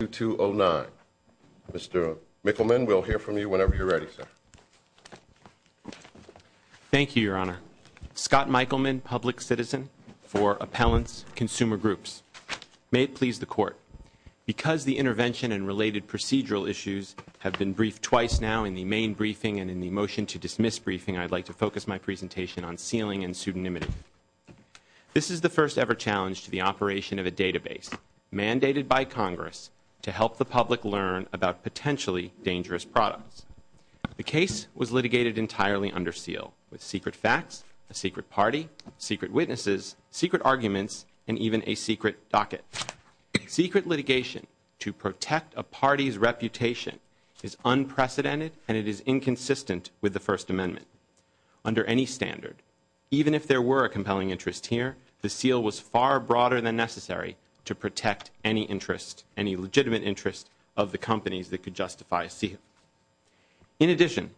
2209. Mr. Michelman, we'll hear from you whenever you're ready, sir. Thank you, Your Honor. Scott Michelman, Public Citizen for Appellants, Consumer Groups. May it please the Court, because the intervention and related procedural issues have been briefed twice now in the main briefing and in the motion to dismiss briefing, I'd like to focus my presentation on sealing and pseudonymity. This is the first ever challenge to the operation of a database mandated by Congress to help the public learn about potentially dangerous products. The case was litigated entirely under seal with secret facts, a secret party, secret witnesses, secret arguments, and even a secret docket. Secret litigation to protect a party's reputation is unprecedented and it is inconsistent with the First Amendment. Under any standard, even if there were a compelling interest here, the seal was far broader than necessary to protect any interest, any legitimate interest of the companies that could justify a seal. In addition,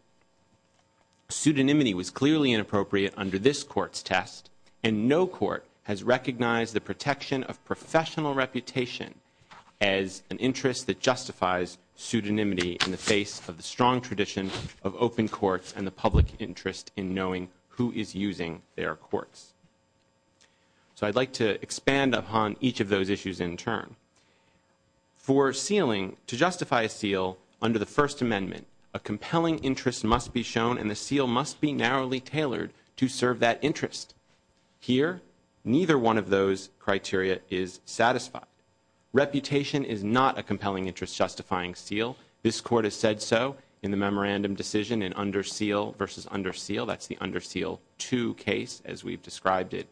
pseudonymity was clearly inappropriate under this Court's test and no Court has recognized the protection of professional reputation as an interest that justifies pseudonymity in the face of the strong tradition of open courts and the public interest in knowing who is using their courts. So I'd like to expand upon each of those issues in turn. For sealing, to justify a seal under the First Amendment, a compelling interest must be shown and the seal must be narrowly tailored to serve that interest. Here, neither one of those criteria is satisfied. Reputation is not a compelling interest justifying seal. This Court has said so in the memorandum decision in under seal versus under seal. That's the under seal two case, as we've described it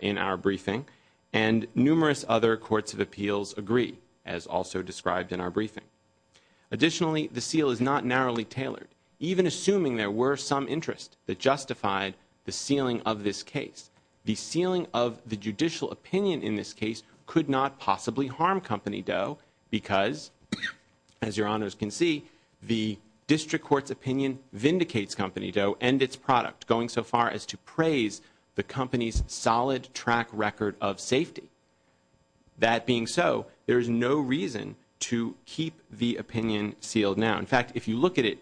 in our briefing. And numerous other courts of appeals agree, as also described in our briefing. Additionally, the seal is not narrowly tailored, even assuming there were some interest that justified the sealing of this case. The sealing of the judicial opinion in this case could not possibly harm Company Doe because, as your honors can see, the district court's opinion vindicates Company Doe and its product, going so far as to praise the company's solid track record of safety. That being so, there is no reason to keep the opinion sealed now. In fact, if you look at it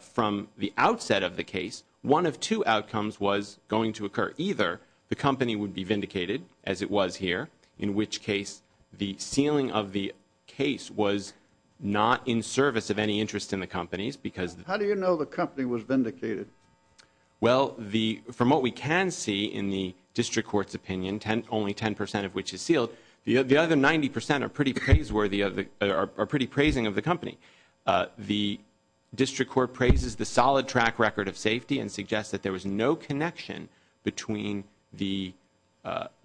from the outset of the case, one of two outcomes was going to occur. Either the company would be vindicated, as it was here, in which case the sealing of the case was not in service of any interest in the company's because... How do you know the company was vindicated? Well, from what we can see in the district court's opinion, only 10 percent of which is sealed, the other 90 percent are pretty praising of the company. The district court praises the solid track record of safety and suggests that there was no connection between the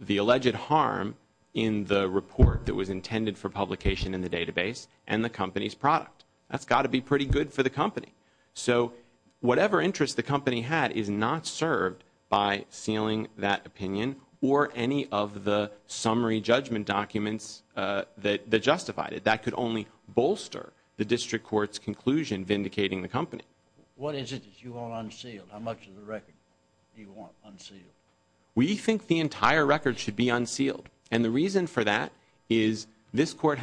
alleged harm in the report that was intended for publication in the database and the company's product. That's got to be pretty good for the company. So whatever interest the company had is not served by sealing that opinion or any of the summary judgment documents that justified it. That could only bolster the district court's conclusion vindicating the company. What is it that you want unsealed? How much of the record do you want unsealed? We think the entire record should be unsealed. And the reason for that is this country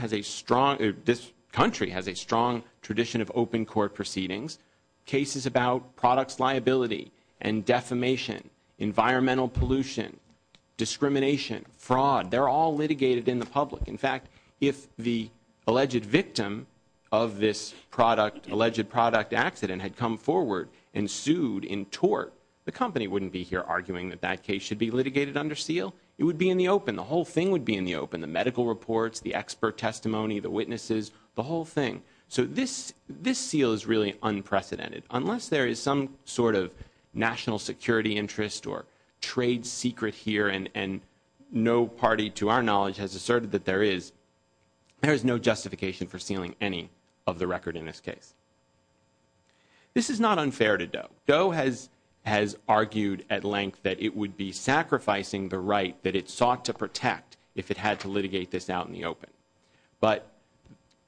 has a strong tradition of open court proceedings. Cases about products liability and defamation, environmental pollution, discrimination, fraud, they're all litigated in the public. In fact, if the alleged victim of this product, alleged product accident had come forward and sued in tort, the company wouldn't be here arguing that that case should be litigated under seal. It would be in the open. The whole thing would be in the open. The medical reports, the expert testimony, the witnesses, the whole thing. So this seal is really unprecedented. Unless there is some sort of national security interest or trade secret here and no party to our knowledge has asserted that there is, there is no justification for sealing any of the record in this case. This is not unfair to Doe. Doe has argued at length that it would be sacrificing the right that it sought to protect if it had to litigate this out in the open. But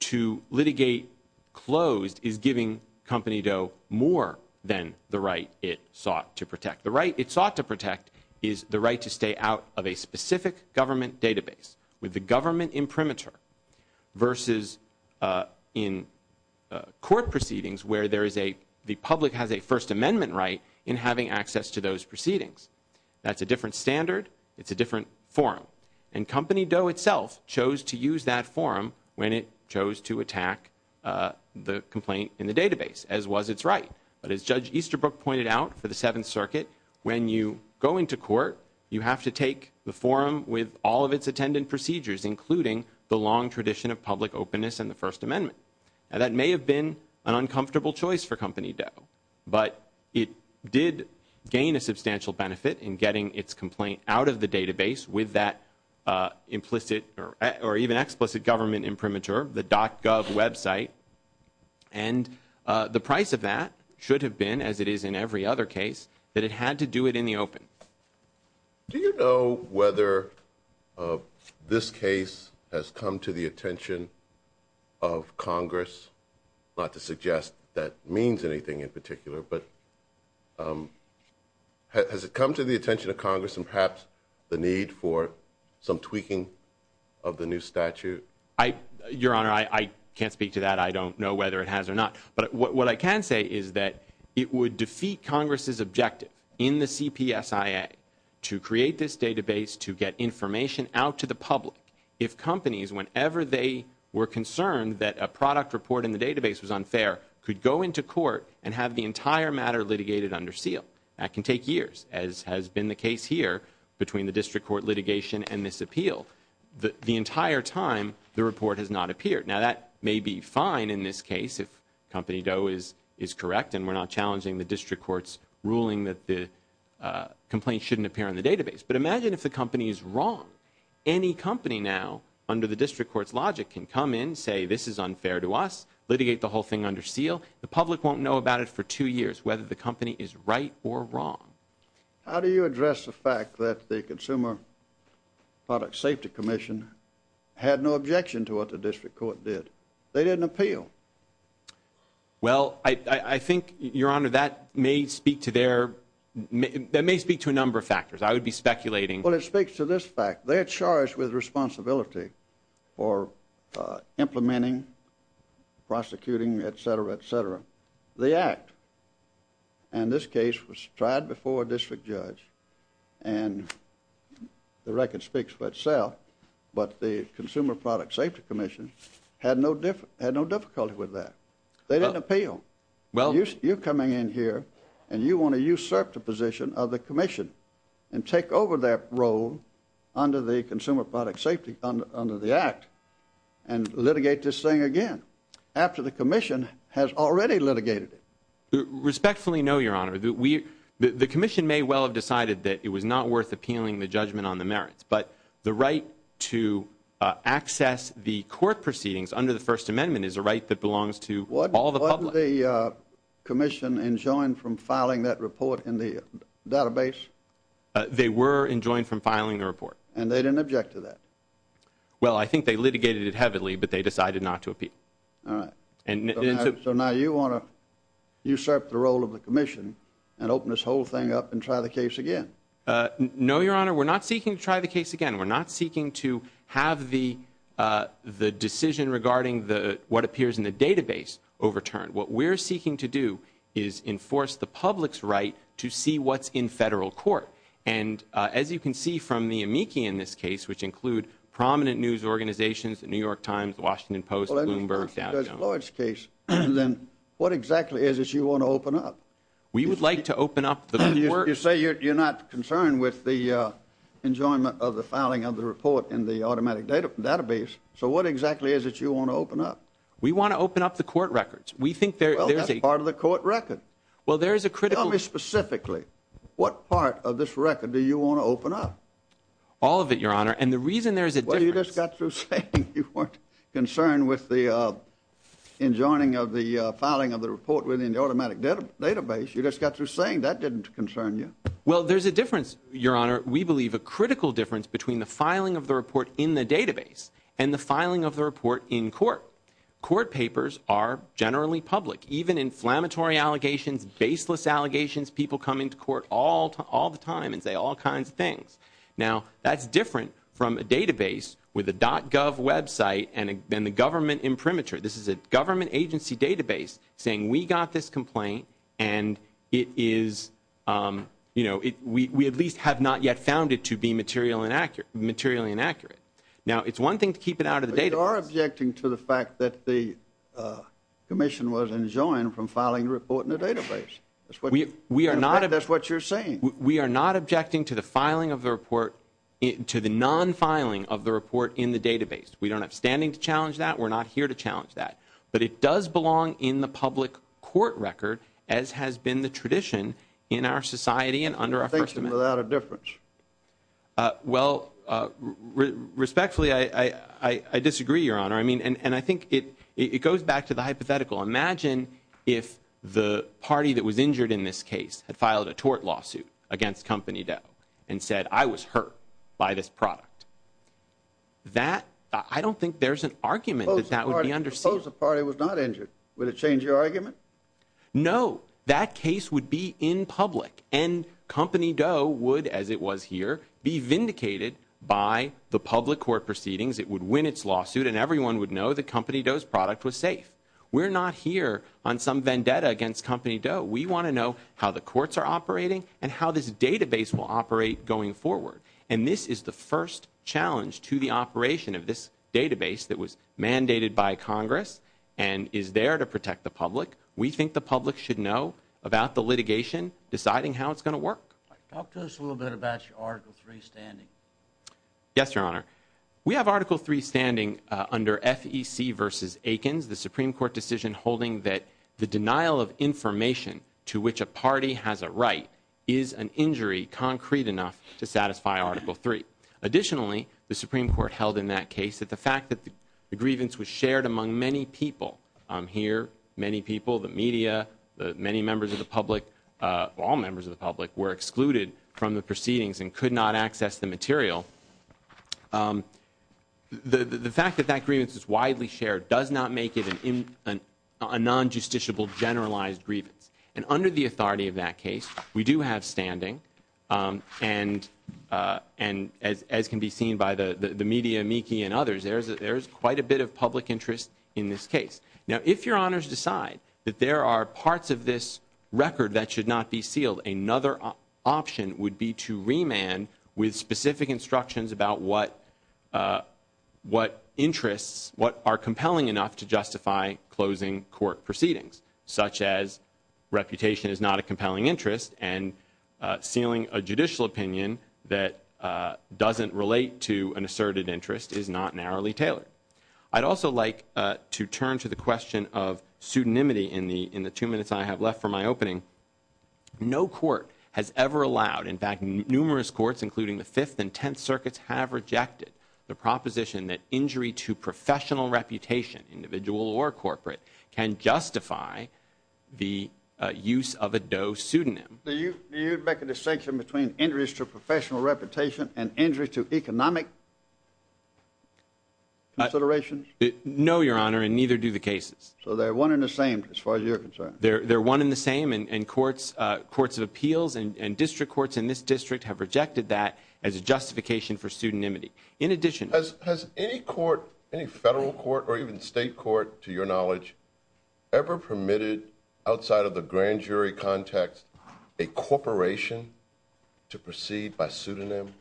to litigate closed is giving Company Doe more than the right it sought to protect. The right it sought to protect is the right to stay out of a specific government database with the government imprimatur versus in court proceedings where there is a, the public has a First Amendment right in having access to those proceedings. That's a different standard. It's a different forum. And Company Doe itself chose to use that forum when it chose to attack the complaint in the database, as was its right. But as Judge Easterbrook pointed out for the Seventh Circuit, when you go into court, you have to take the forum with all of its attendant procedures, including the long tradition of public openness and the First Amendment. And that may have been an uncomfortable choice for Company Doe, but it did gain a substantial benefit in getting its complaint out of the database with that implicit or even explicit government imprimatur, the dot gov website. And the price of that should have been, as it is in every other case, that it had to do it in the open. Do you know whether this case has come to the attention of Congress, not to suggest that means anything in particular, but has it come to the attention of Congress and perhaps the need for some tweaking of the new statute? I your honor, I can't speak to that. I don't know whether it has or not. But what I can say is that it would defeat Congress's objective in the CPSIA to create this database, to get information out to the public if companies, whenever they were concerned that a product report in the database was unfair, could go into court and have the entire matter litigated under seal. That can take years, as has been the case here between the district court litigation and this appeal. The entire time, the report has not appeared. Now, that may be fine in this case if Company Doe is correct and we're not challenging the district court's ruling that the complaint shouldn't appear in the database. But imagine if the company is wrong. Any company now, under the district court's logic, can come in, say this is unfair to us, litigate the whole thing under seal. The public won't know about it for two years, whether the company is right or wrong. How do you address the fact that the Consumer Product Safety Commission had no objection to what the district court did? They didn't appeal. Well, I think, your honor, that may speak to their, that may speak to a number of factors. I would be speculating. Well, it speaks to this fact. They're charged with responsibility for implementing, prosecuting, etc., etc. The act, and this case was tried before a district judge, and the record speaks for itself, but the Consumer Product Safety Commission had no difficulty with that. They didn't appeal. You're coming in here, and you want to usurp the position of the commission and take over that role under the Consumer Product Safety, under the act, and litigate this thing again. After the commission has already litigated it. Respectfully, no, your honor. The commission may well have decided that it was not worth appealing the judgment on the merits, but the right to access the court proceedings under the First Amendment is a right that belongs to all the public. Wasn't the commission enjoined from filing that report in the database? They were enjoined from filing the report. And they didn't object to that? Well, I think they litigated it heavily, but they decided not to appeal. So now you want to usurp the role of the commission and open this whole thing up and try the case again? No, your honor. We're not seeking to try the case again. We're not seeking to have the decision regarding what appears in the database overturned. What we're seeking to do is enforce the public's right to see what's in federal court. And as you can see from the amici in this case, which include prominent news organizations, The New York Times, The Washington Post, Bloomberg, Dow Jones. Well, in this case, what exactly is it you want to open up? We would like to open up the court. You say you're not concerned with the enjoyment of the filing of the report in the automatic database. So what exactly is it you want to open up? We want to open up the court records. Well, that's part of the court record. Tell me specifically, what part of this record do you want to open up? All of it, your honor. And the reason there's a difference. Well, you just got through saying you weren't concerned with the enjoining of the filing of the report within the automatic database. You just got through saying that didn't concern you. Well, there's a difference, your honor. We believe a critical difference between the filing of the report in the database and the filing of the report in court. Court papers are generally public. Even inflammatory allegations, baseless allegations, people come into court all the time and say all kinds of things. Now, that's different from a database with a .gov website and the government imprimatur. This is a government agency database saying we got this complaint and it is, you know, we at least have not yet found it to be materially inaccurate. Now, it's one thing to keep it out of the database. But you are objecting to the fact that the commission was enjoined from filing the report in the database. In fact, that's what you're saying. We are not objecting to the filing of the report, to the non-filing of the report in the database. We don't have standing to challenge that. We're not here to challenge that. But it does belong in the public court record as has been the tradition in our society and under our First Amendment. You think it's without a difference? Well, respectfully, I disagree, Your Honor. I mean, and I think it goes back to the hypothetical. Imagine if the party that was injured in this case had filed a tort lawsuit against Company Doe and said, I was hurt by this product. That, I don't think there's an argument that that would be understood. Suppose the party was not injured. Would it change your argument? No. That case would be in public and Company Doe would, as it was here, be vindicated by the public court proceedings. It would win its lawsuit and everyone would know that Company Doe's product was safe. We're not here on some vendetta against Company Doe. We want to know how the courts are operating and how this database will operate going forward. And this is the first challenge to the operation of this database that was mandated by Congress and is there to protect the public. We think the public should know about the litigation, deciding how it's going to work. Talk to us a little bit about your Article III standing. Yes, Your Honor. We have Article III standing under FEC versus Aikens, the Supreme Court decision holding that the denial of information to which a party has a right is an injury concrete enough to satisfy Article III. Additionally, the Supreme Court held in that case that the fact that the grievance was shared among many people, here many people, the media, many members of the public, all members of the public, were excluded from the proceedings and could not access the material. The fact that that grievance is widely shared does not make it a non-justiciable generalized grievance. And under the authority of that case, we do have standing. And as can be seen by the media and others, there is quite a bit of public interest in this case. Now, if Your Honors decide that there are parts of this record that should not be sealed, another option would be to remand with specific instructions about what interests, what are compelling enough to justify closing court proceedings, such as reputation is not a compelling interest and sealing a judicial opinion that doesn't relate to an asserted interest is not narrowly tailored. I'd also like to turn to the question of pseudonymity in the two minutes I have left for my opening. No court has ever allowed, in fact, numerous courts, including the Fifth and Tenth Circuits, have rejected the proposition that injury to professional reputation, individual or corporate, can justify the use of a DOE pseudonym. Do you make a distinction between injuries to professional reputation and injuries to economic considerations? No, Your Honor, and neither do the cases. So they're one and the same as far as you're concerned? They're one and the same, and courts of appeals and district courts in this district have rejected that as a justification for pseudonymity. In addition— Has any court, any federal court or even state court, to your knowledge, ever permitted, outside of the grand jury context, a corporation to proceed by pseudonym?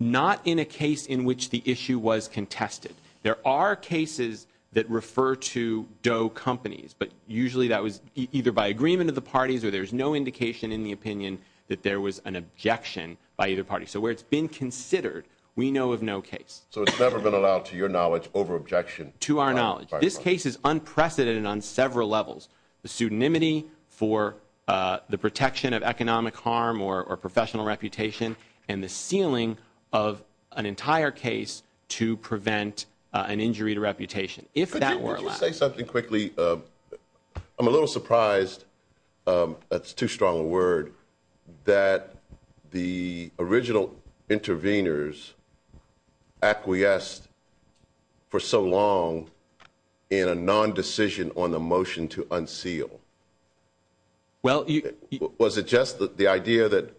Not in a case in which the issue was contested. There are cases that refer to DOE companies, but usually that was either by agreement of the parties or there's no indication in the opinion that there was an objection by either party. So where it's been considered, we know of no case. So it's never been allowed, to your knowledge, over-objection? To our knowledge. This case is unprecedented on several levels. The pseudonymity for the protection of economic harm or professional reputation, and the sealing of an entire case to prevent an injury to reputation, if that were allowed. Could you say something quickly? I'm a little surprised—that's too strong a word—that the original interveners acquiesced for so long in a non-decision on the motion to unseal. Was it just the idea that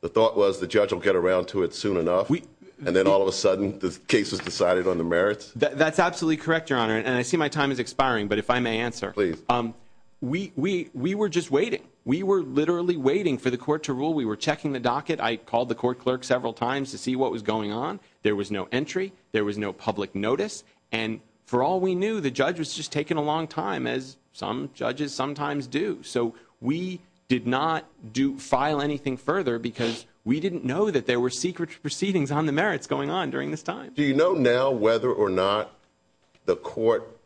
the thought was the judge will get around to it soon enough, and then all of a sudden the case was decided on the merits? That's absolutely correct, Your Honor. And I see my time is expiring, but if I may answer. Please. We were just waiting. We were literally waiting for the court to rule. We were checking the docket. I called the court clerk several times to see what was going on. There was no entry. There was no public notice. And for all we knew, the judge was just taking a long time, as some judges sometimes do. So we did not file anything further because we didn't know that there were secret proceedings on the merits going on during this time. Do you know now whether or not the court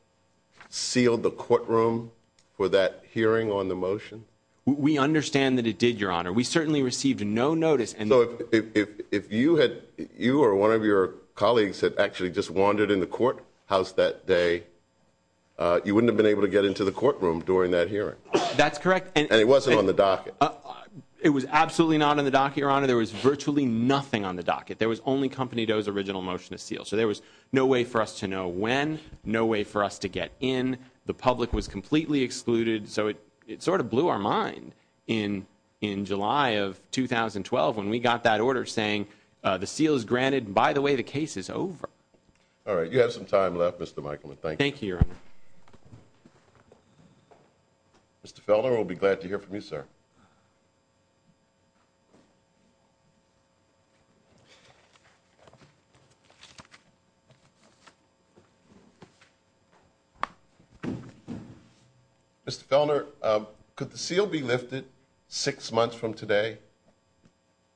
sealed the courtroom for that hearing on the motion? We understand that it did, Your Honor. We certainly received no notice. So if you or one of your colleagues had actually just wandered in the courthouse that day, you wouldn't have been able to get into the courtroom during that hearing. That's correct. And it wasn't on the docket. It was absolutely not on the docket, Your Honor. There was virtually nothing on the docket. There was only Company Doe's original motion to seal. So there was no way for us to know when, no way for us to get in. The public was completely excluded. So it sort of blew our mind in July of 2012 when we got that order saying the seal is granted and, by the way, the case is over. All right. You have some time left, Mr. Michaelman. Thank you. Thank you, Your Honor. Mr. Felder, we'll be glad to hear from you, sir. Mr. Felder, could the seal be lifted six months from today?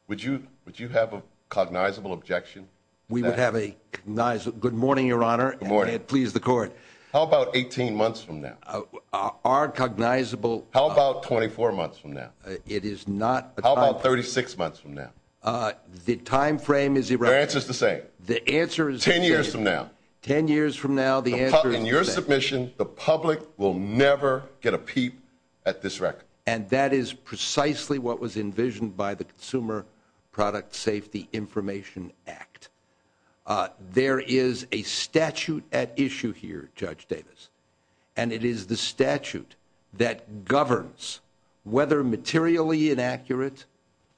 Would you have a cognizable objection? We would have a cognizable. Good morning, Your Honor, and please the court. How about 18 months from now? Our cognizable. How about 24 months from now? It is not. How about 36 months from now? The time frame is irrelevant. The answer is the same. The answer is the same. Ten years from now. Ten years from now, the answer is the same. In your submission, the public will never get a peep at this record. And that is precisely what was envisioned by the Consumer Product Safety Information Act. There is a statute at issue here, Judge Davis. And it is the statute that governs whether materially inaccurate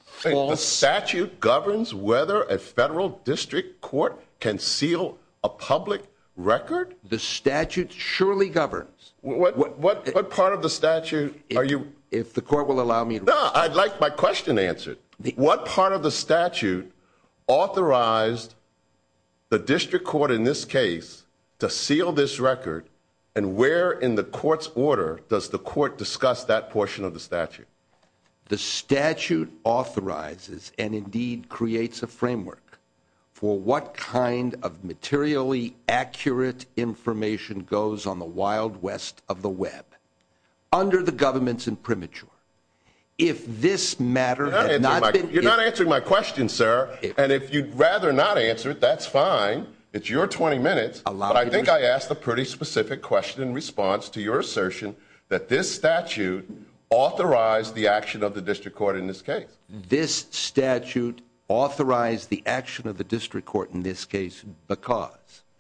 false... The statute governs whether a federal district court can seal a public record? The statute surely governs. What part of the statute are you... If the court will allow me... No, I'd like my question answered. What part of the statute authorized the district court in this case to seal this record? And where in the court's order does the court discuss that portion of the statute? The statute authorizes and, indeed, creates a framework for what kind of materially accurate information goes on the Wild West of the web. Under the government's imprimatur. If this matter has not been... You're not answering my question, sir. And if you'd rather not answer it, that's fine. It's your 20 minutes. But I think I asked a pretty specific question in response to your assertion that this statute authorized the action of the district court in this case. This statute authorized the action of the district court in this case because...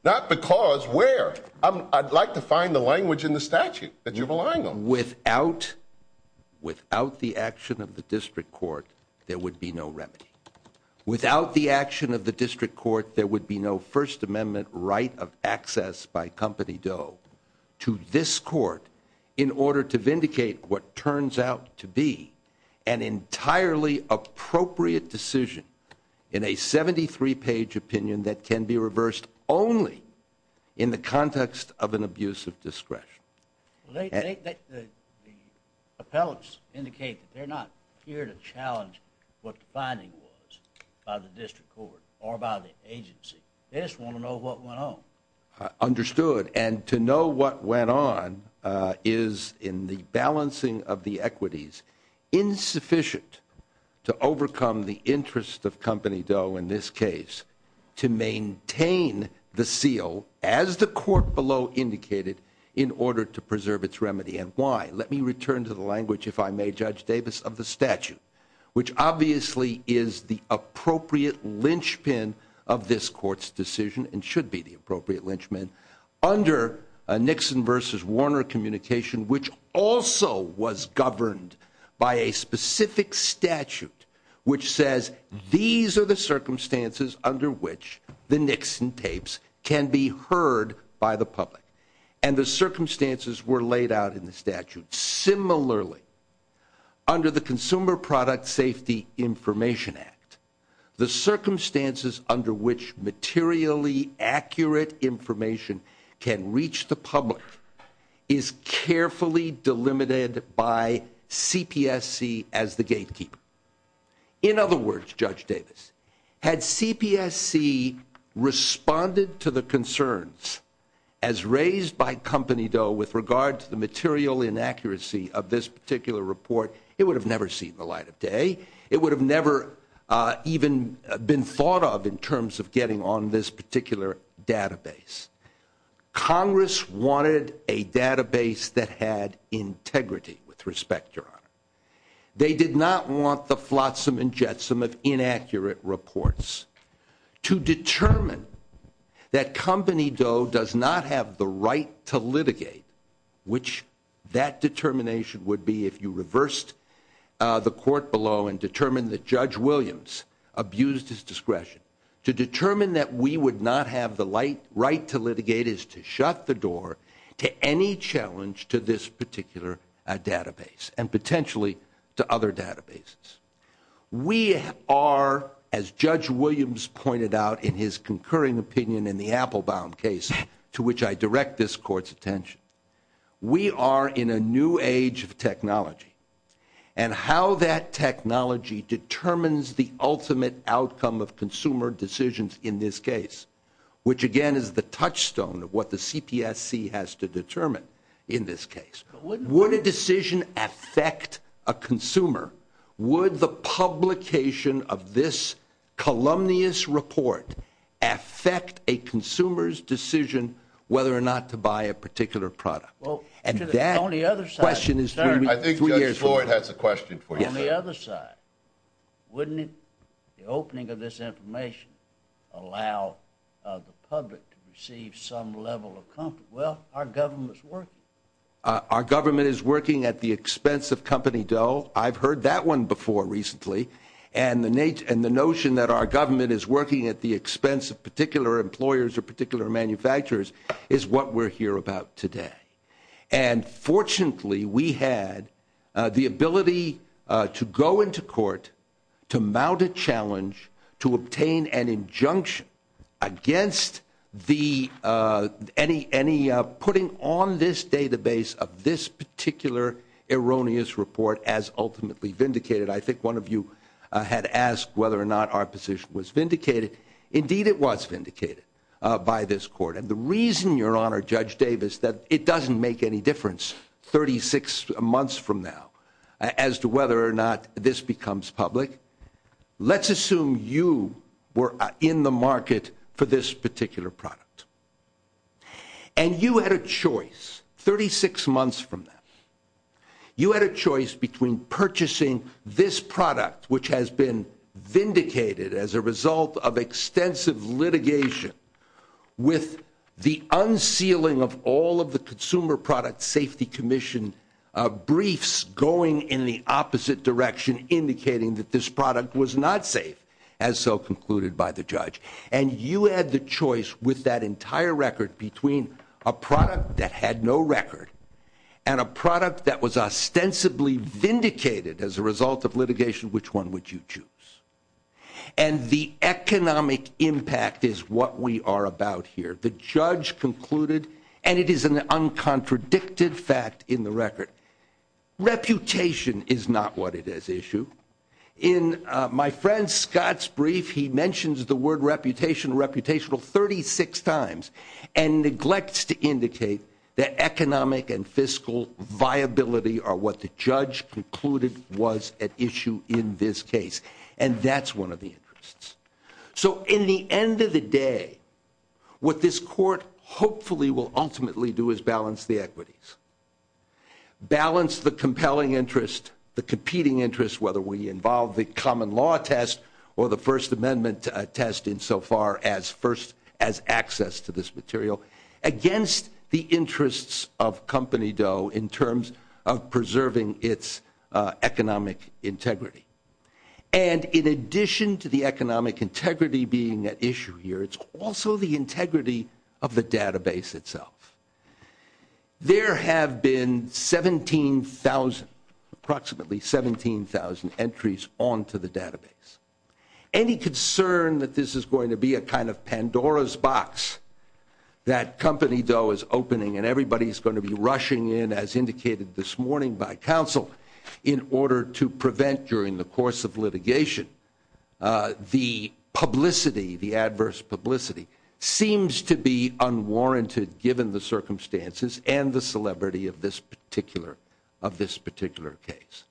Not because where? I'd like to find the language in the statute that you're relying on. Without the action of the district court, there would be no remedy. Without the action of the district court, there would be no First Amendment right of access by Company Doe to this court in order to vindicate what turns out to be an entirely appropriate decision in a 73-page opinion that can be reversed only in the context of an abuse of discretion. The appellants indicate that they're not here to challenge what the finding was by the district court or by the agency. They just want to know what went on. Understood. And to know what went on is, in the balancing of the equities, insufficient to overcome the interest of Company Doe in this case to maintain the seal, as the court below indicated, in order to preserve its remedy. And why? Let me return to the language, if I may, Judge Davis, of the statute, which obviously is the appropriate linchpin of this court's decision and should be the appropriate linchpin under a Nixon versus Warner communication, which also was governed by a specific statute, which says these are the circumstances under which the Nixon tapes can be heard by the public. And the circumstances were laid out in the statute. Similarly, under the Consumer Product Safety Information Act, the circumstances under which materially accurate information can reach the public is carefully delimited by CPSC as the gatekeeper. In other words, Judge Davis, had CPSC responded to the concerns as raised by Company Doe with regard to the material inaccuracy of this particular report, it would have never seen the light of day. It would have never even been thought of in terms of getting on this particular database. Congress wanted a database that had integrity, with respect, Your Honor. They did not want the flotsam and jetsam of inaccurate reports. To determine that Company Doe does not have the right to litigate, which that determination would be if you reversed the court below and determined that Judge Williams abused his discretion. To determine that we would not have the right to litigate is to shut the door to any challenge to this particular database and potentially to other databases. We are, as Judge Williams pointed out in his concurring opinion in the Applebaum case, to which I direct this court's attention, we are in a new age of technology and how that technology determines the ultimate outcome of consumer decisions in this case, which again is the touchstone of what the CPSC has to determine in this case. Would a decision affect a consumer? Would the publication of this columnious report affect a consumer's decision whether or not to buy a particular product? And that question is for you. I think Judge Floyd has a question for you. On the other side, wouldn't the opening of this information allow the public to receive some level of comfort? Well, our government's working. Our government is working at the expense of Company Doe. I've heard that one before recently. And the notion that our government is working at the expense of particular employers or particular manufacturers is what we're here about today. And fortunately, we had the ability to go into court to mount a challenge to obtain an injunction against putting on this database of this particular erroneous report as ultimately vindicated. I think one of you had asked whether or not our position was vindicated. Indeed, it was vindicated by this court. And the reason, Your Honor, Judge Davis, that it doesn't make any difference 36 months from now as to whether or not this becomes public. Let's assume you were in the market for this particular product. And you had a choice 36 months from now. You had a choice between purchasing this product, which has been vindicated as a result of extensive litigation, with the unsealing of all of the Consumer Product Safety Commission briefs going in the opposite direction, indicating that this product was not safe, as so concluded by the judge. And you had the choice with that entire record between a product that had no record and a product that was ostensibly vindicated as a result of litigation. Which one would you choose? And the economic impact is what we are about here. The judge concluded, and it is an uncontradicted fact in the record, reputation is not what it is issue. In my friend Scott's brief, he mentions the word reputation, reputational, 36 times and neglects to indicate that economic and fiscal viability are what the judge concluded was at issue in this case. And that's one of the interests. So in the end of the day, what this court hopefully will ultimately do is balance the equities. Balance the compelling interest, the competing interest, whether we involve the common law test or the First Amendment test insofar as access to this material, against the interests of Company Doe in terms of preserving its economic integrity. And in addition to the economic integrity being at issue here, it's also the integrity of the database itself. There have been 17,000, approximately 17,000 entries onto the database. Any concern that this is going to be a kind of Pandora's box that Company Doe is opening and everybody is going to be rushing in, as indicated this morning by counsel, in order to prevent during the course of litigation, the publicity, the adverse publicity, seems to be unwarranted given the circumstances and the celebrity of this particular case.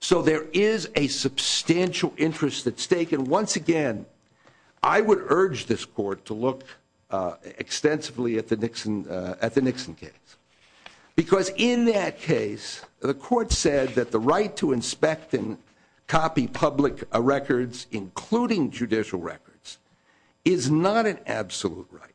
So there is a substantial interest at stake. And once again, I would urge this court to look extensively at the Nixon case. Because in that case, the court said that the right to inspect and copy public records, including judicial records, is not an absolute right.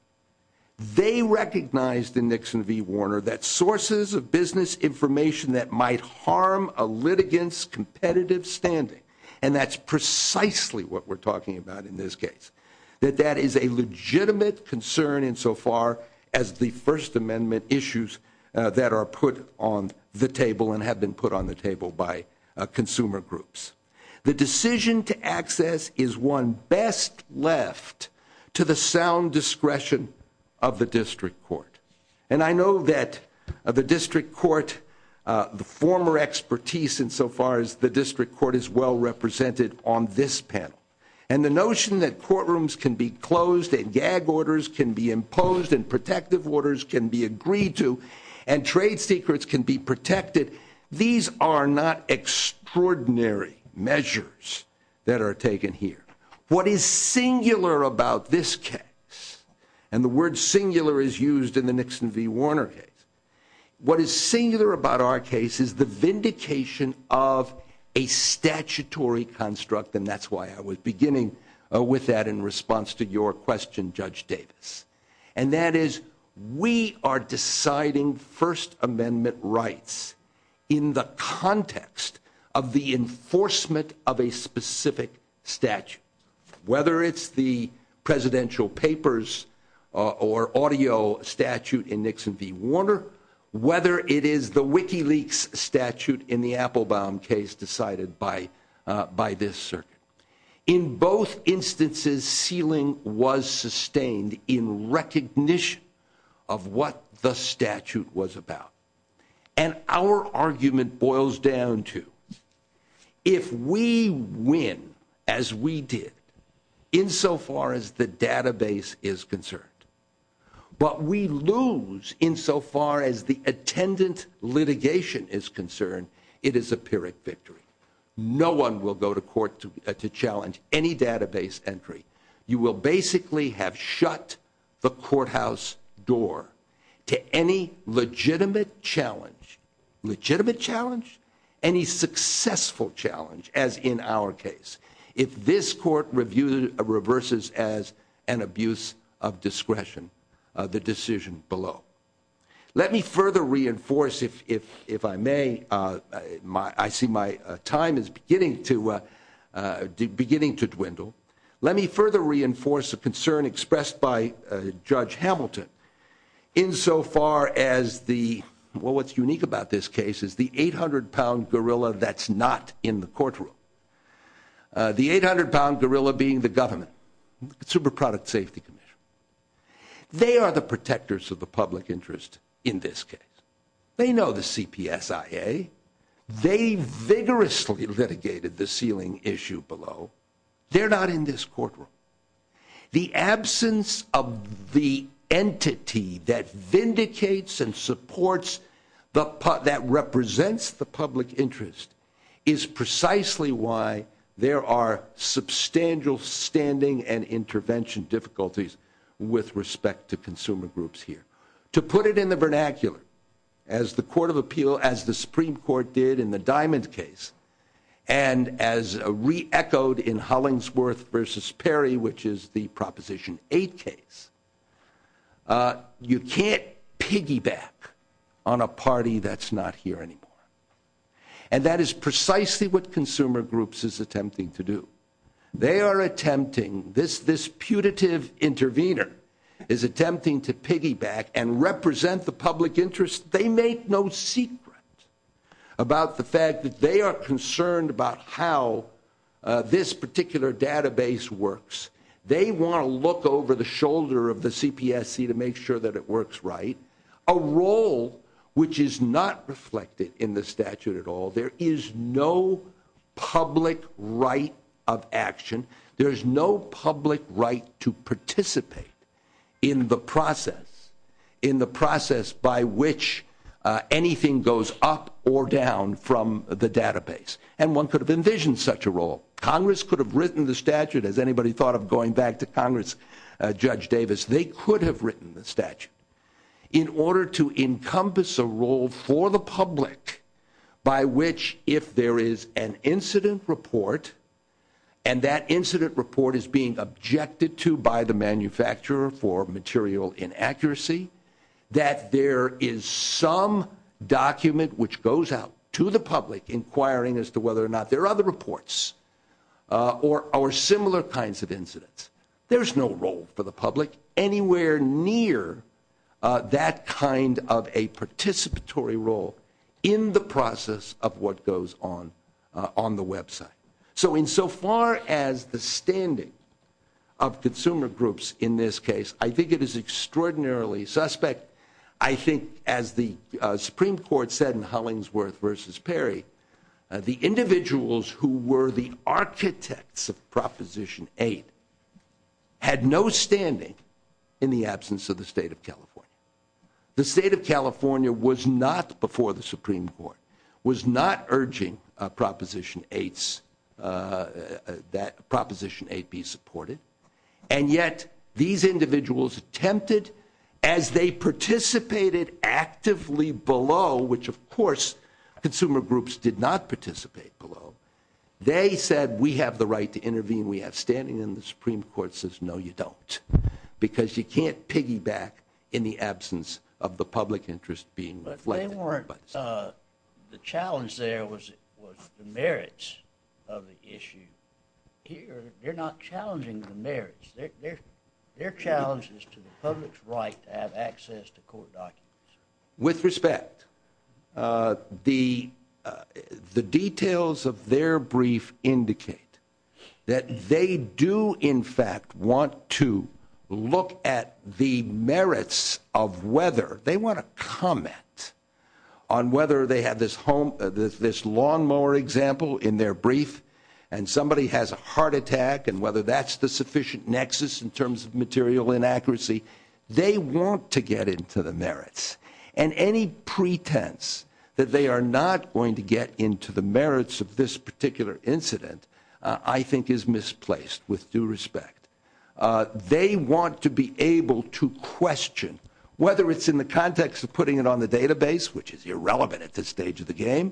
They recognized in Nixon v. Warner that sources of business information that might harm a litigant's competitive standing, and that's precisely what we're talking about in this case, that that is a legitimate concern insofar as the First Amendment issues that are put on the table and have been put on the table by consumer groups. The decision to access is one best left to the sound discretion of the district court. And I know that the district court, the former expertise insofar as the district court, is well represented on this panel. And the notion that courtrooms can be closed and gag orders can be imposed and protective orders can be agreed to and trade secrets can be protected, these are not extraordinary measures that are taken here. What is singular about this case, and the word singular is used in the Nixon v. Warner case, what is singular about our case is the vindication of a statutory construct, and that's why I was beginning with that in response to your question, Judge Davis. And that is we are deciding First Amendment rights in the context of the enforcement of a specific statute, whether it's the presidential papers or audio statute in Nixon v. Warner, whether it is the WikiLeaks statute in the Applebaum case decided by this circuit. In both instances, sealing was sustained in recognition of what the statute was about. And our argument boils down to if we win, as we did, insofar as the database is concerned, but we lose insofar as the attendant litigation is concerned, it is a Pyrrhic victory. No one will go to court to challenge any database entry. You will basically have shut the courthouse door to any legitimate challenge. Legitimate challenge? Any successful challenge, as in our case. If this court reviews it, reverses as an abuse of discretion, the decision below. Let me further reinforce, if I may, I see my time is beginning to dwindle. Let me further reinforce a concern expressed by Judge Hamilton insofar as the, well, what's unique about this case is the 800-pound gorilla that's not in the courtroom. The 800-pound gorilla being the government, Super Product Safety Commission. They are the protectors of the public interest in this case. They know the CPSIA. They vigorously litigated the sealing issue below. They're not in this courtroom. The absence of the entity that vindicates and supports, that represents the public interest is precisely why there are substantial standing and intervention difficulties with respect to consumer groups here. To put it in the vernacular, as the Supreme Court did in the Diamond case, and as re-echoed in Hollingsworth v. Perry, which is the Proposition 8 case, you can't piggyback on a party that's not here anymore. And that is precisely what consumer groups is attempting to do. They are attempting, this putative intervener is attempting to piggyback and represent the public interest. They make no secret about the fact that they are concerned about how this particular database works. They want to look over the shoulder of the CPSC to make sure that it works right. A role which is not reflected in the statute at all. There is no public right of action. There is no public right to participate in the process, in the process by which anything goes up or down from the database. And one could have envisioned such a role. Congress could have written the statute, as anybody thought of going back to Congress, Judge Davis. They could have written the statute in order to encompass a role for the public by which if there is an incident report, and that incident report is being objected to by the manufacturer for material inaccuracy, that there is some document which goes out to the public inquiring as to whether or not there are other reports or similar kinds of incidents. There is no role for the public anywhere near that kind of a participatory role in the process of what goes on on the website. So insofar as the standing of consumer groups in this case, I think it is extraordinarily suspect. I think as the Supreme Court said in Hullingsworth v. Perry, the individuals who were the architects of Proposition 8 had no standing in the absence of the State of California. The State of California was not before the Supreme Court, was not urging Proposition 8 be supported, and yet these individuals attempted as they participated actively below, which of course consumer groups did not participate below, they said we have the right to intervene, we have standing, and the Supreme Court says no you don't. Because you can't piggyback in the absence of the public interest being reflected. But the challenge there was the merits of the issue. Here they're not challenging the merits. Their challenge is to the public's right to have access to court documents. With respect, the details of their brief indicate that they do in fact want to look at the merits of whether, they want to comment on whether they have this lawnmower example in their brief, and somebody has a heart attack, and whether that's the sufficient nexus in terms of material inaccuracy. They want to get into the merits, and any pretense that they are not going to get into the merits of this particular incident, I think is misplaced with due respect. They want to be able to question, whether it's in the context of putting it on the database, which is irrelevant at this stage of the game,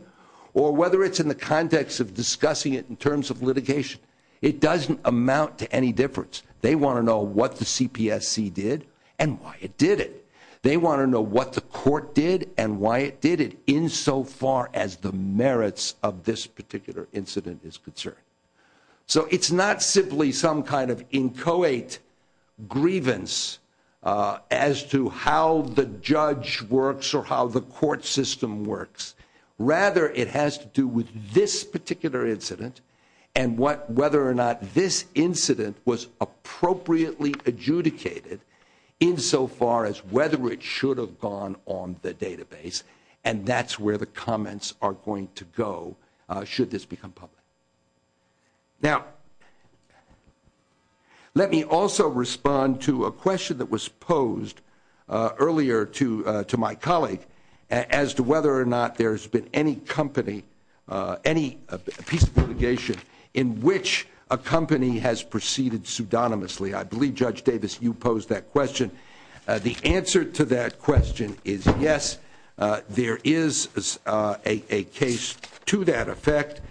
or whether it's in the context of discussing it in terms of litigation. It doesn't amount to any difference. They want to know what the CPSC did, and why it did it. They want to know what the court did, and why it did it, in so far as the merits of this particular incident is concerned. So it's not simply some kind of inchoate grievance, as to how the judge works, or how the court system works. Rather, it has to do with this particular incident, and whether or not this incident was appropriately adjudicated, in so far as whether it should have gone on the database, and that's where the comments are going to go, should this become public. Now, let me also respond to a question that was posed earlier to my colleague, as to whether or not there's been any company, any piece of litigation in which a company has proceeded pseudonymously. I believe, Judge Davis, you posed that question. The answer to that question is yes. There is a case to that effect,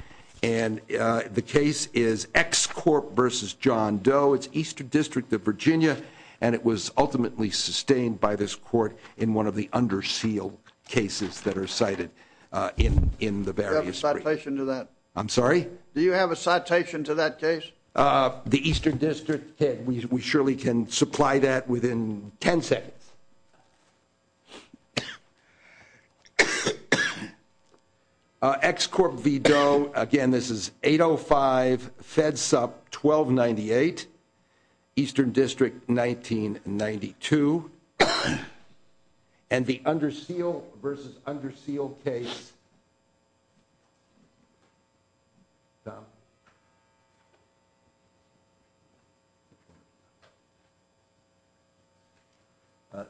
and the case is ExCorp v. John Doe. It's Eastern District of Virginia, and it was ultimately sustained by this court in one of the undersealed cases that are cited in the various briefs. Do you have a citation to that? I'm sorry? Do you have a citation to that case? The Eastern District did. We surely can supply that within 10 seconds. ExCorp v. Doe. Again, this is 805-FEDSUP-1298. Eastern District, 1992. And the undersealed versus undersealed case. Tom?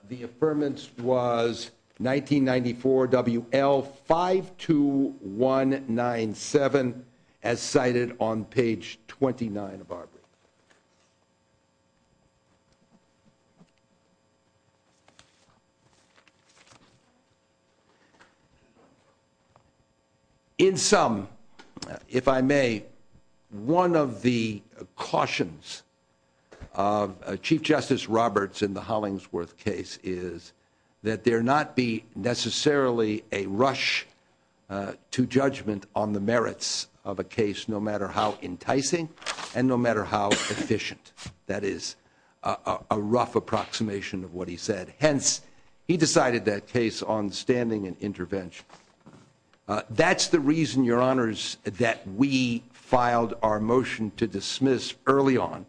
The affirmance was 1994 WL-52197, as cited on page 29 of our brief. In sum, if I may, one of the cautions of Chief Justice Roberts in the Hollingsworth case is that there not be necessarily a rush to judgment on the merits of a case, no matter how enticing and no matter how efficient. That is a rough approximation of what he said. Hence, he decided that case on standing and intervention. That's the reason, Your Honors, that we filed our motion to dismiss early on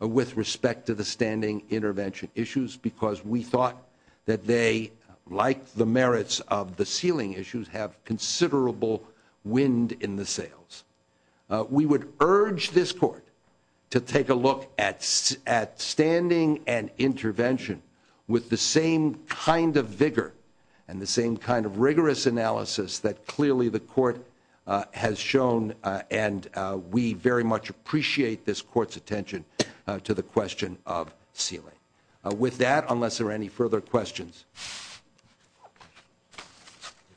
with respect to the standing intervention issues, because we thought that they, like the merits of the sealing issues, have considerable wind in the sails. We would urge this Court to take a look at standing and intervention with the same kind of vigor and the same kind of rigorous analysis that clearly the Court has shown, and we very much appreciate this Court's attention to the question of sealing. With that, unless there are any further questions.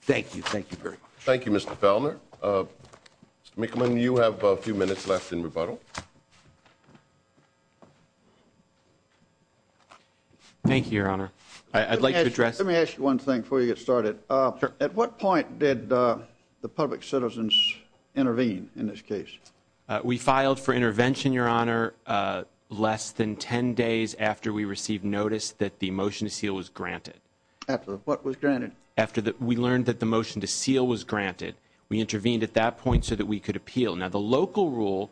Thank you. Thank you very much. Thank you, Mr. Fellner. Mr. McMillan, you have a few minutes left in rebuttal. Thank you, Your Honor. I'd like to address Let me ask you one thing before you get started. At what point did the public citizens intervene in this case? We filed for intervention, Your Honor, less than 10 days after we received notice that the motion to seal was granted. After what was granted? After we learned that the motion to seal was granted. We intervened at that point so that we could appeal. Now, the local rule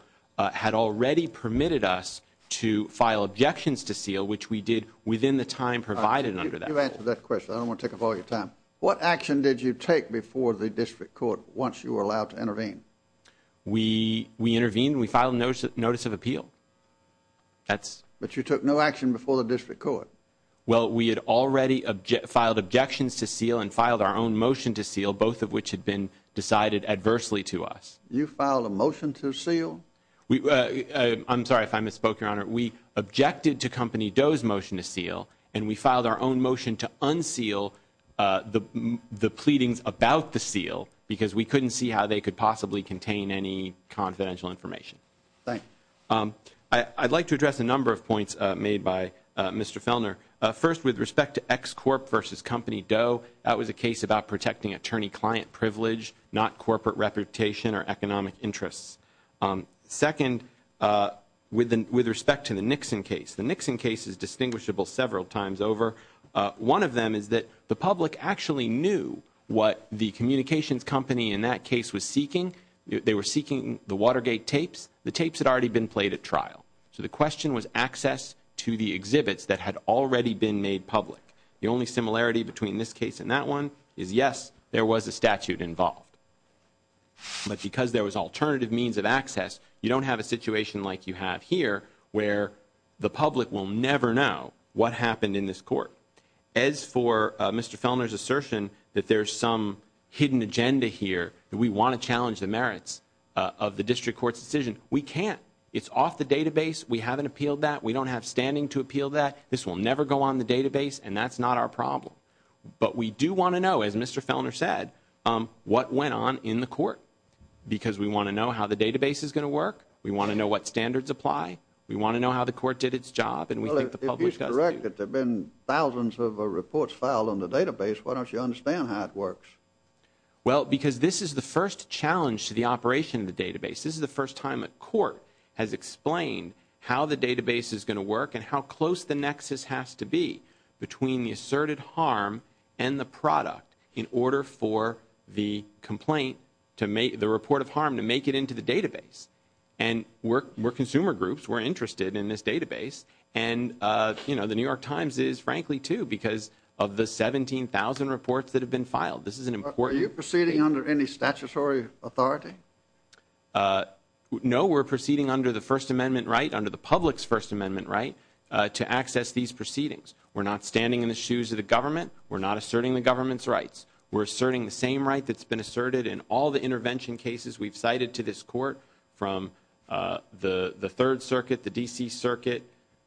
had already permitted us to file objections to seal, which we did within the time provided under that rule. You answered that question. I don't want to take up all your time. What action did you take before the district court once you were allowed to intervene? We intervened. We filed a notice of appeal. But you took no action before the district court. Well, we had already filed objections to seal and filed our own motion to seal, both of which had been decided adversely to us. You filed a motion to seal? I'm sorry if I misspoke, Your Honor. We objected to Company Doe's motion to seal, and we filed our own motion to unseal the pleadings about the seal because we couldn't see how they could possibly contain any confidential information. Thank you. I'd like to address a number of points made by Mr. Fellner. First, with respect to X Corp versus Company Doe, that was a case about protecting attorney-client privilege, not corporate reputation or economic interests. Second, with respect to the Nixon case, the Nixon case is distinguishable several times over. One of them is that the public actually knew what the communications company in that case was seeking. They were seeking the Watergate tapes. The tapes had already been played at trial. So the question was access to the exhibits that had already been made public. The only similarity between this case and that one is, yes, there was a statute involved. But because there was alternative means of access, you don't have a situation like you have here where the public will never know what happened in this court. As for Mr. Fellner's assertion that there's some hidden agenda here, that we want to challenge the merits of the district court's decision, we can't. It's off the database. We haven't appealed that. We don't have standing to appeal that. This will never go on the database, and that's not our problem. But we do want to know, as Mr. Fellner said, what went on in the court because we want to know how the database is going to work. We want to know what standards apply. We want to know how the court did its job. If he's correct that there have been thousands of reports filed on the database, why don't you understand how it works? Well, because this is the first challenge to the operation of the database. This is the first time a court has explained how the database is going to work and how close the nexus has to be between the asserted harm and the product in order for the complaint, the report of harm, to make it into the database. And we're consumer groups. We're interested in this database. And the New York Times is, frankly, too, because of the 17,000 reports that have been filed. Are you proceeding under any statutory authority? No, we're proceeding under the First Amendment right, under the public's First Amendment right to access these proceedings. We're not standing in the shoes of the government. We're not asserting the government's rights. We're asserting the same right that's been asserted in all the intervention cases we've cited to this court, from the Third Circuit, the D.C. Circuit,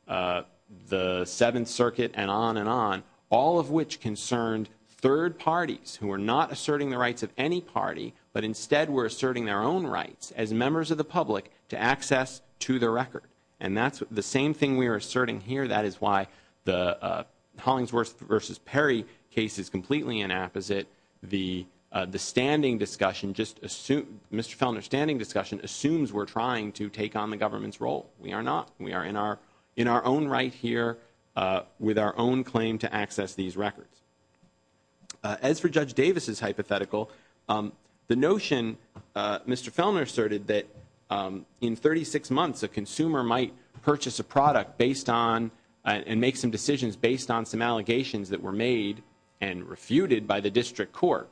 the Seventh Circuit, and on and on, all of which concerned third parties who are not asserting the rights of any party, but instead were asserting their own rights as members of the public to access to the record. And that's the same thing we are asserting here. That is why the Hollingsworth v. Perry case is completely inapposite. The standing discussion, Mr. Fellner's standing discussion, assumes we're trying to take on the government's role. We are not. We are in our own right here with our own claim to access these records. As for Judge Davis's hypothetical, the notion, Mr. Fellner asserted, that in 36 months a consumer might purchase a product based on and make some decisions based on some allegations that were made and refuted by the district court.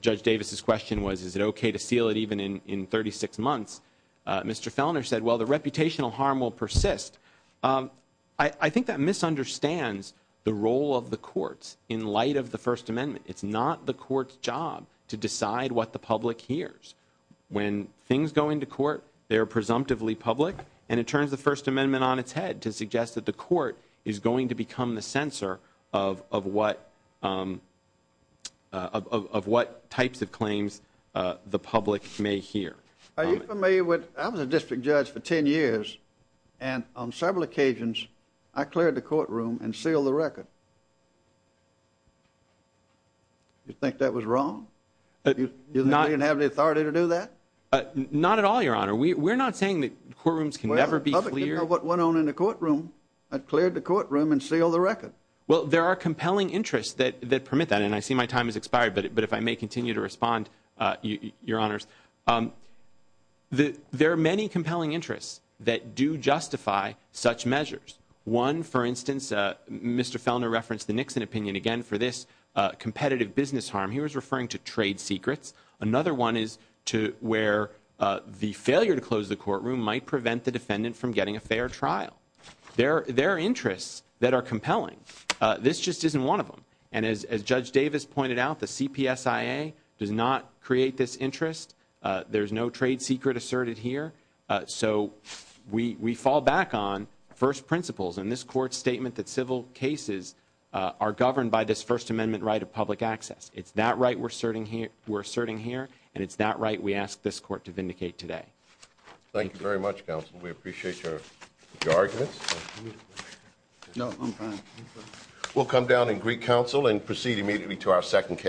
Judge Davis's question was, is it okay to seal it even in 36 months? Mr. Fellner said, well, the reputational harm will persist. I think that misunderstands the role of the courts in light of the First Amendment. It's not the court's job to decide what the public hears. When things go into court, they are presumptively public, and it turns the First Amendment on its head to suggest that the court is going to become the censor of what types of claims the public may hear. Are you familiar with, I was a district judge for 10 years, and on several occasions, I cleared the courtroom and sealed the record. Do you think that was wrong? Do you think we have the authority to do that? Not at all, Your Honor. We're not saying that courtrooms can never be cleared. The public didn't know what went on in the courtroom. I cleared the courtroom and sealed the record. Well, there are compelling interests that permit that, and I see my time has expired, but if I may continue to respond, Your Honors. There are many compelling interests that do justify such measures. One, for instance, Mr. Felner referenced the Nixon opinion again for this competitive business harm. He was referring to trade secrets. Another one is where the failure to close the courtroom might prevent the defendant from getting a fair trial. There are interests that are compelling. This just isn't one of them. And as Judge Davis pointed out, the CPSIA does not create this interest. There's no trade secret asserted here. So we fall back on first principles in this court's statement that civil cases are governed by this First Amendment right of public access. It's that right we're asserting here, and it's that right we ask this court to vindicate today. Thank you very much, counsel. We appreciate your arguments. No, I'm fine. We'll come down in Greek counsel and proceed immediately to our second case.